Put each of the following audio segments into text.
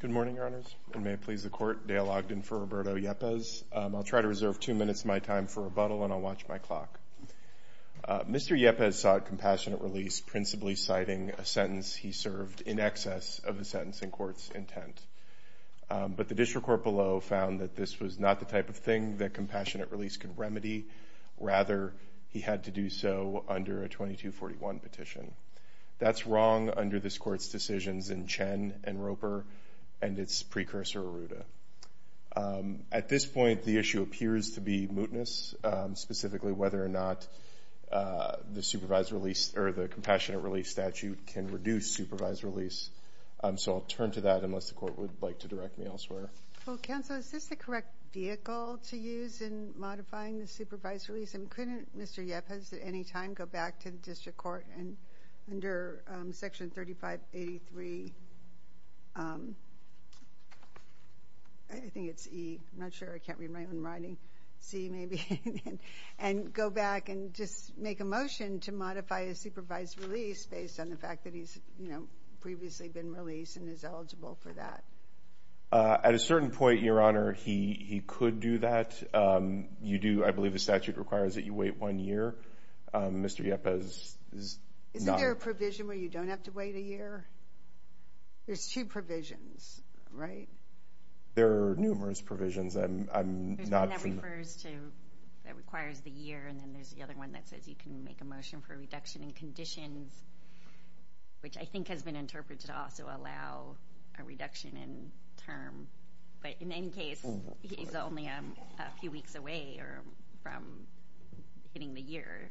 Good morning, Your Honors, and may it please the Court, Dale Ogden for Roberto Yepez. I'll try to reserve two minutes of my time for rebuttal and I'll watch my clock. Mr. Yepez sought compassionate release principally citing a sentence he served in excess of the sentencing court's intent. But the district court below found that this was not the type of thing that compassionate release could remedy. Rather, he had to do so under a 2241 petition. That's wrong under this court's decisions in Chen and Roper and its precursor, Arruda. At this point, the issue appears to be mootness, specifically whether or not the supervised release or the compassionate release statute can reduce supervised release. So I'll turn to that unless the modifying the supervised release. And couldn't Mr. Yepez at any time go back to the district court and under Section 3583, I think it's E. I'm not sure. I can't read my own writing. C, maybe, and go back and just make a motion to modify a supervised release based on the fact that he's, you know, previously been released and is eligible for that? At a certain point, Your Honor, he could do that. You do. I believe the statute requires that you wait one year. Mr. Yepez is not. Isn't there a provision where you don't have to wait a year? There's two provisions, right? There are numerous provisions. I'm not. That requires the year. And then there's the other one that says you can make a motion for a reduction in conditions, which I think has been interpreted to also allow a reduction in term. But in any case, he's only a few weeks away from hitting the year.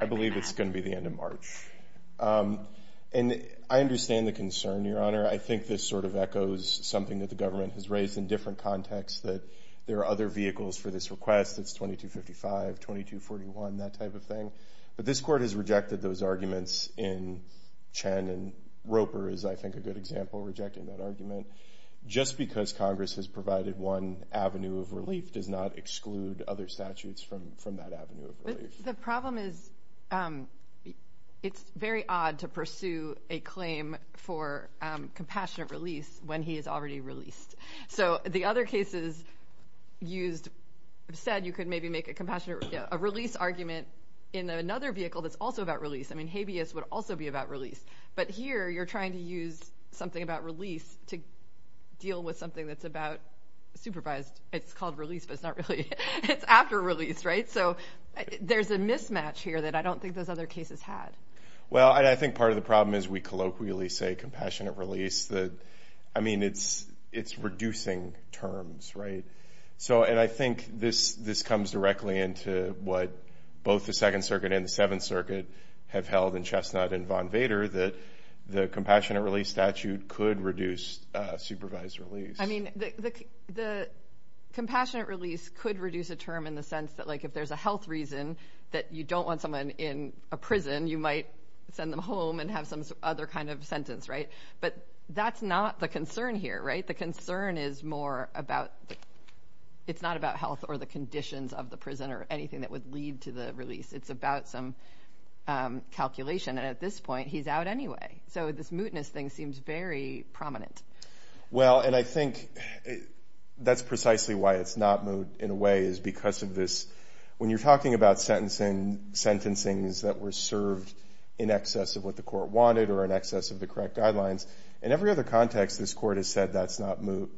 I believe it's going to be the end of March. And I understand the concern, Your Honor. I think this sort of echoes something that the government has raised in different contexts, that there are other vehicles for this request. It's 2255, 2241, that type of thing. But this Court has rejected those arguments in Chen and Roper is, I think, a good example of rejecting that argument. Just because Congress has provided one avenue of relief does not exclude other statutes from that avenue of relief. The problem is it's very odd to pursue a claim for compassionate release when he is already released. So the other cases used said you could maybe make a compassionate release argument in another vehicle that's also about release. I mean, habeas would also be about release. But here you're trying to use something about release to deal with something that's about supervised. It's called release, but it's not really. It's after release, right? So there's a mismatch here that I don't think those other cases had. Well, I think part of the problem is we colloquially say compassionate release. I mean, it's reducing terms, right? And I think this comes directly into what both the Second Circuit and the Seventh Circuit have held in Chestnut and Von Vader, that the compassionate release statute could reduce supervised release. I mean, the compassionate release could reduce a term in the sense that if there's a health reason that you don't want someone in a prison, you might send them home and have some other kind of sentence, right? But that's not the concern here, right? The concern is more about, it's not about health or the conditions of the prison or anything that would lead to the release. It's about some calculation. And at this point, he's out anyway. So this mootness thing seems very prominent. Well, and I think that's precisely why it's not moot in a way is because of this. When you're sentencing, it's that we're served in excess of what the court wanted or in excess of the correct guidelines. In every other context, this court has said that's not moot,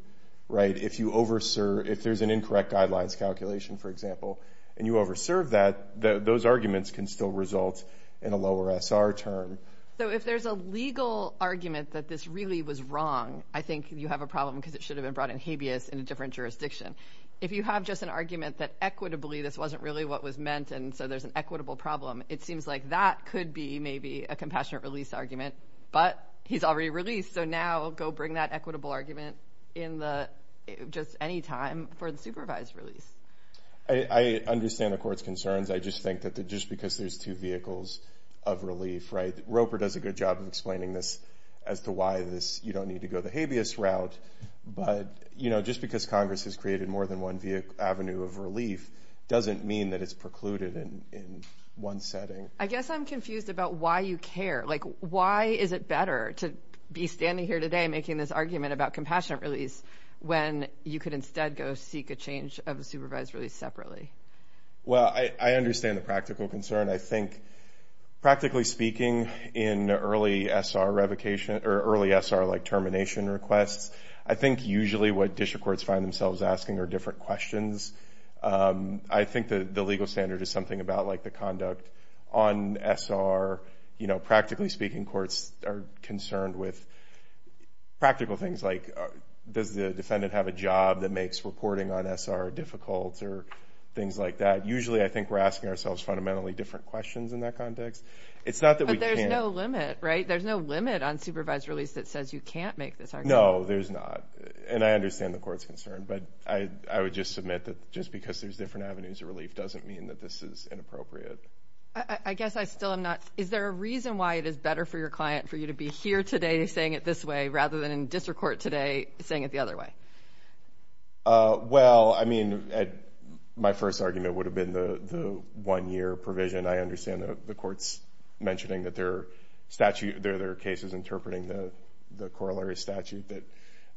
right? If there's an incorrect guidelines calculation, for example, and you over serve that, those arguments can still result in a lower SR term. So if there's a legal argument that this really was wrong, I think you have a problem because it should have been brought in habeas in a different jurisdiction. If you have just an argument that what was meant and so there's an equitable problem, it seems like that could be maybe a compassionate release argument, but he's already released. So now go bring that equitable argument in just any time for the supervised release. I understand the court's concerns. I just think that just because there's two vehicles of relief, right? Roper does a good job of explaining this as to why you don't need to go the habeas route. But just because Congress has created more than one avenue of relief doesn't mean that it's precluded in one setting. I guess I'm confused about why you care. Like why is it better to be standing here today making this argument about compassionate release when you could instead go seek a change of a supervised release separately? Well, I understand the practical concern. I think practically speaking in early SR revocation or early SR like termination requests, I think usually what district courts find themselves asking are different questions. I think the legal standard is something about like the conduct on SR. Practically speaking, courts are concerned with practical things like does the defendant have a job that makes reporting on SR difficult or things like that. Usually I think we're asking ourselves fundamentally different questions in that context. But there's no limit, right? There's no limit on supervised release that says you can't make this argument. No, there's not. And I understand the court's concern. But I would just submit that just because there's different avenues of relief doesn't mean that this is inappropriate. I guess I still am not... Is there a reason why it is better for your client for you to be here today saying it this way rather than in district court today saying it the other way? Well, I mean, my first argument would have been the one-year provision. I understand the court's mentioning that there are cases interpreting the corollary statute that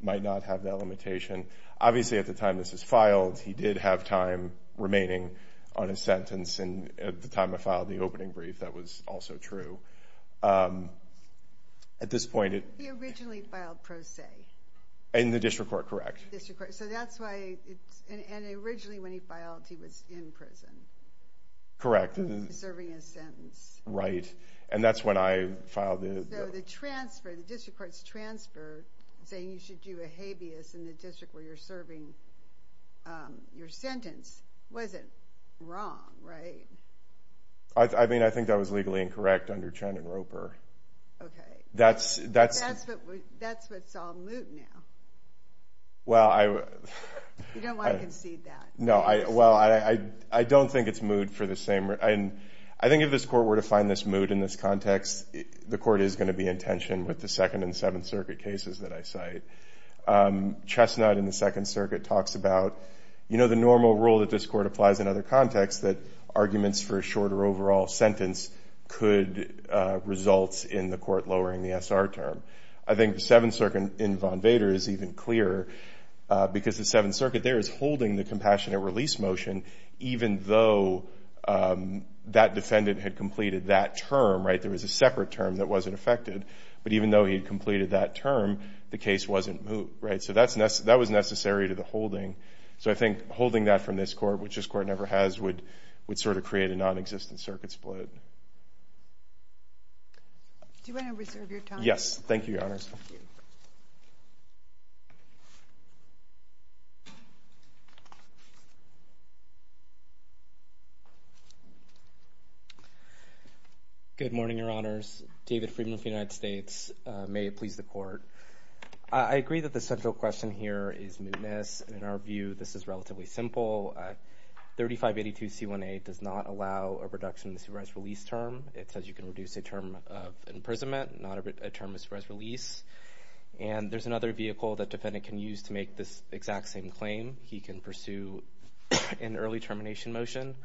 might not have that limitation. Obviously, at the time this is filed, he did have time remaining on his sentence. And at the time I filed the opening brief, that was also true. At this point... He originally filed pro se. In the district court, correct. District court. So that's why... And originally when he filed, he was in prison. Correct. Serving his sentence. Right. And that's when I filed the... So the transfer, the district court's transfer saying you should do a habeas in the district where you're serving your sentence wasn't wrong, right? I mean, I think that was legally incorrect under Chen and Roper. Okay. That's what's all moot now. You don't want to concede that. No. Well, I don't think it's moot for the same... And I think if this court were to find this moot in this context, the court is going to be in tension with the Second and Seventh Circuit cases that I cite. Chestnut in the Second Circuit talks about the normal rule that this court applies in other contexts that arguments for a shorter overall sentence could result in the court lowering the SR term. I think the Seventh Circuit in Von Vader is even clearer because the Seventh Circuit in their release motion, even though that defendant had completed that term, right? There was a separate term that wasn't affected. But even though he had completed that term, the case wasn't moot, right? So that was necessary to the holding. So I think holding that from this court, which this court never has, would sort of create a non-existent circuit split. Do you want to reserve your time? Yes. Thank you, Your Honors. Good morning, Your Honors. David Freedman from the United States. May it please the court. I agree that the central question here is mootness. In our view, this is relatively simple. 3582 C1A does not allow a reduction in the supervised release term. It says you can reduce a term of imprisonment, not a term of supervised release. And there's another vehicle that defendant can use to make this exact same claim. He can pursue a reduced term of imprisonment, in early termination motion,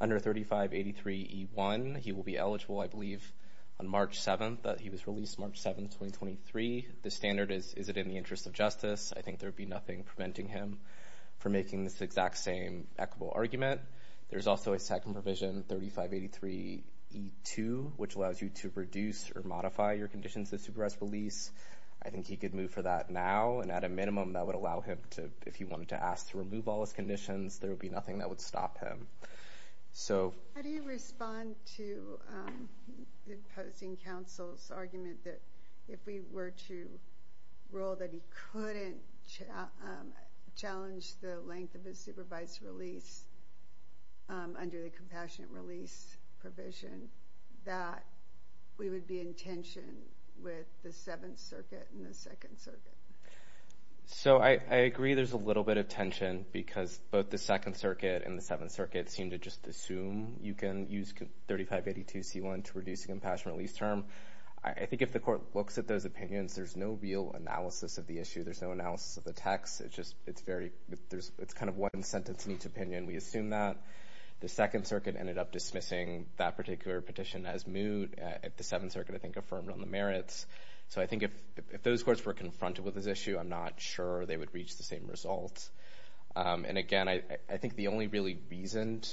under 3583 E1. He will be eligible, I believe, on March 7th. He was released March 7th, 2023. The standard is, is it in the interest of justice? I think there would be nothing preventing him from making this exact same equitable argument. There's also a second provision, 3583 E2, which allows you to reduce or modify your conditions of supervised release. I think he could move for that now. And at a minimum, that would allow him to, if he wanted to ask to remove all his conditions, there would be nothing that would stop him. How do you respond to the opposing counsel's argument that, if we were to rule that he couldn't challenge the length of his supervised release under the compassionate release provision, that we would be in tension with the Seventh Circuit and the Second Circuit? So, I agree there's a little bit of tension because both the Second Circuit and the Seventh Circuit seem to just assume you can use 3582 C1 to reduce the compassionate release term. I think if the court looks at those opinions, there's no real analysis of the issue. There's no analysis of the text. It's just, it's very, there's, it's kind of one sentence in each opinion. We assume that. The Second Circuit ended up dismissing that particular petition as moot. The Seventh Circuit, I think, affirmed on the merits. So, I think if, if those courts were confronted with this issue, I'm not sure they would reach the same results. And again, I think the only really reasoned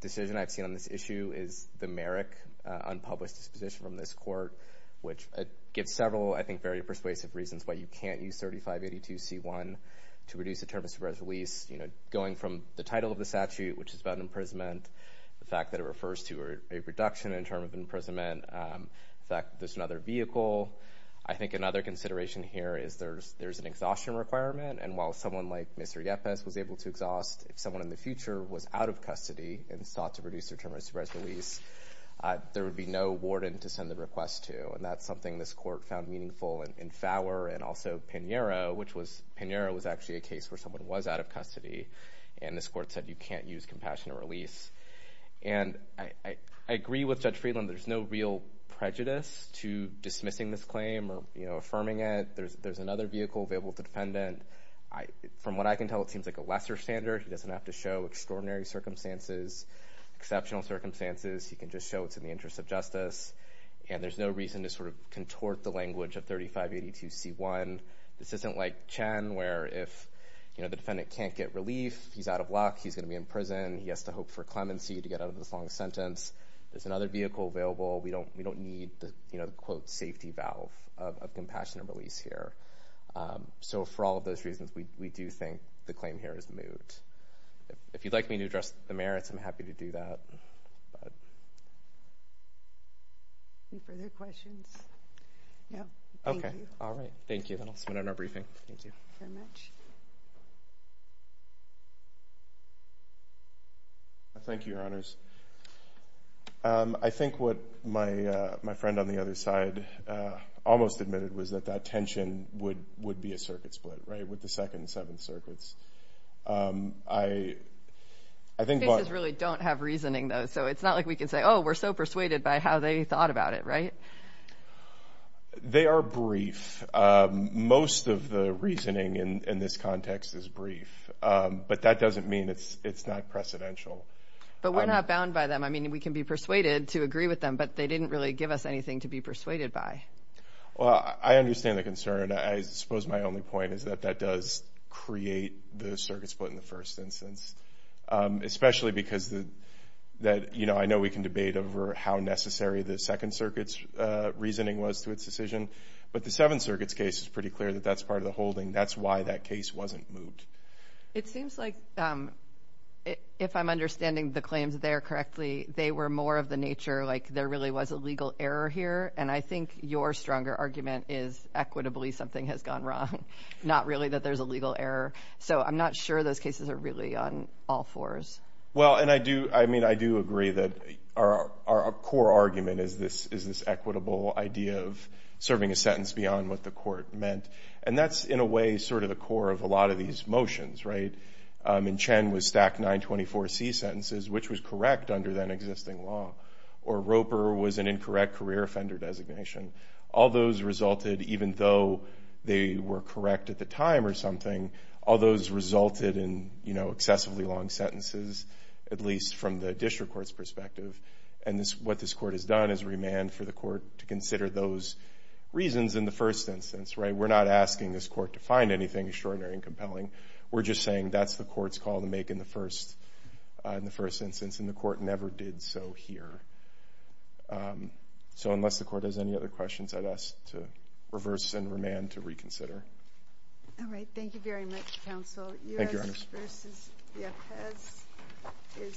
decision I've seen on this issue is the merit unpublished disposition from this court, which gives several, I think, very persuasive reasons why you can't use 3582 C1 to reduce the term of supervised release, you know, going from the title of the statute, which is about imprisonment, the fact that it refers to a reduction in term of imprisonment, the fact that there's another vehicle. I think another consideration here is there's, there's an exhaustion requirement. And while someone like Mr. Yepes was able to exhaust, if someone in the future was out of custody and sought to reduce their term of supervised release, there would be no warden to send the request to. And that's something this court found meaningful in Fowler and also Pinheiro, which was, Pinheiro was actually a case where someone was out of custody. And this court said, you can't use compassionate release. And I, I agree with Judge Friedland, there's no real prejudice to dismissing this claim or, you know, affirming it. There's, there's another vehicle available to defendant. I, from what I can tell, it seems like a lesser standard. He doesn't have to show extraordinary circumstances, exceptional circumstances. He can just show it's in the interest of justice. And there's no reason to sort of contort the language of 3582 C1. This isn't like Chen, where if, you know, the defendant can't get relief, he's out of luck, he's going to be in prison. He has to hope for clemency to get out of this sentence. There's another vehicle available. We don't, we don't need the, you know, the quote, safety valve of, of compassionate release here. So for all of those reasons, we, we do think the claim here is moot. If you'd like me to address the merits, I'm happy to do that. Any further questions? No. Okay. All right. Thank you. Then I'll submit it in our briefing. Thank you. Thank you very much. Thank you, your honors. I think what my, my friend on the other side almost admitted was that that tension would, would be a circuit split, right? With the second and seventh circuits. I, I think what... The cases really don't have reasoning though. So it's not like we can say, oh, we're so persuaded by how they thought about it, right? They are brief. Most of the reasoning in, in this context is brief. But that doesn't mean it's, it's not precedential. But we're not bound by them. I mean, we can be persuaded to agree with them, but they didn't really give us anything to be persuaded by. Well, I understand the concern. I suppose my only point is that that does create the circuit split in the first instance. Especially because the, that, you know, I know we can debate over how necessary the second circuits reasoning was to its decision, but the seventh circuits case is pretty clear that that's part of the holding. That's why that case wasn't moved. It seems like if I'm understanding the claims there correctly, they were more of the nature, like there really was a legal error here. And I think your stronger argument is equitably something has gone wrong. Not really that there's a legal error. So I'm not sure those cases are really on all fours. Well, and I do, I mean, I do agree that our, our core argument is this, is this equitable idea of serving a sentence beyond what the court meant. And that's in a way sort of the core of a lot of these motions, right? And Chen was stacked 924C sentences, which was correct under that existing law. Or Roper was an incorrect career offender designation. All those resulted, even though they were correct at the time or something, all those resulted in, you know, excessively long sentences, at least from the district court's perspective. And this, what this court has done is remand for the court to consider those reasons in the first instance, right? We're not asking this court to find anything extraordinary and compelling. We're just saying that's the court's call to make in the first, in the first instance. And the court never did so here. So unless the court has any other questions, I'd ask to reverse and remand to reconsider. All right. Thank you very much, thank you.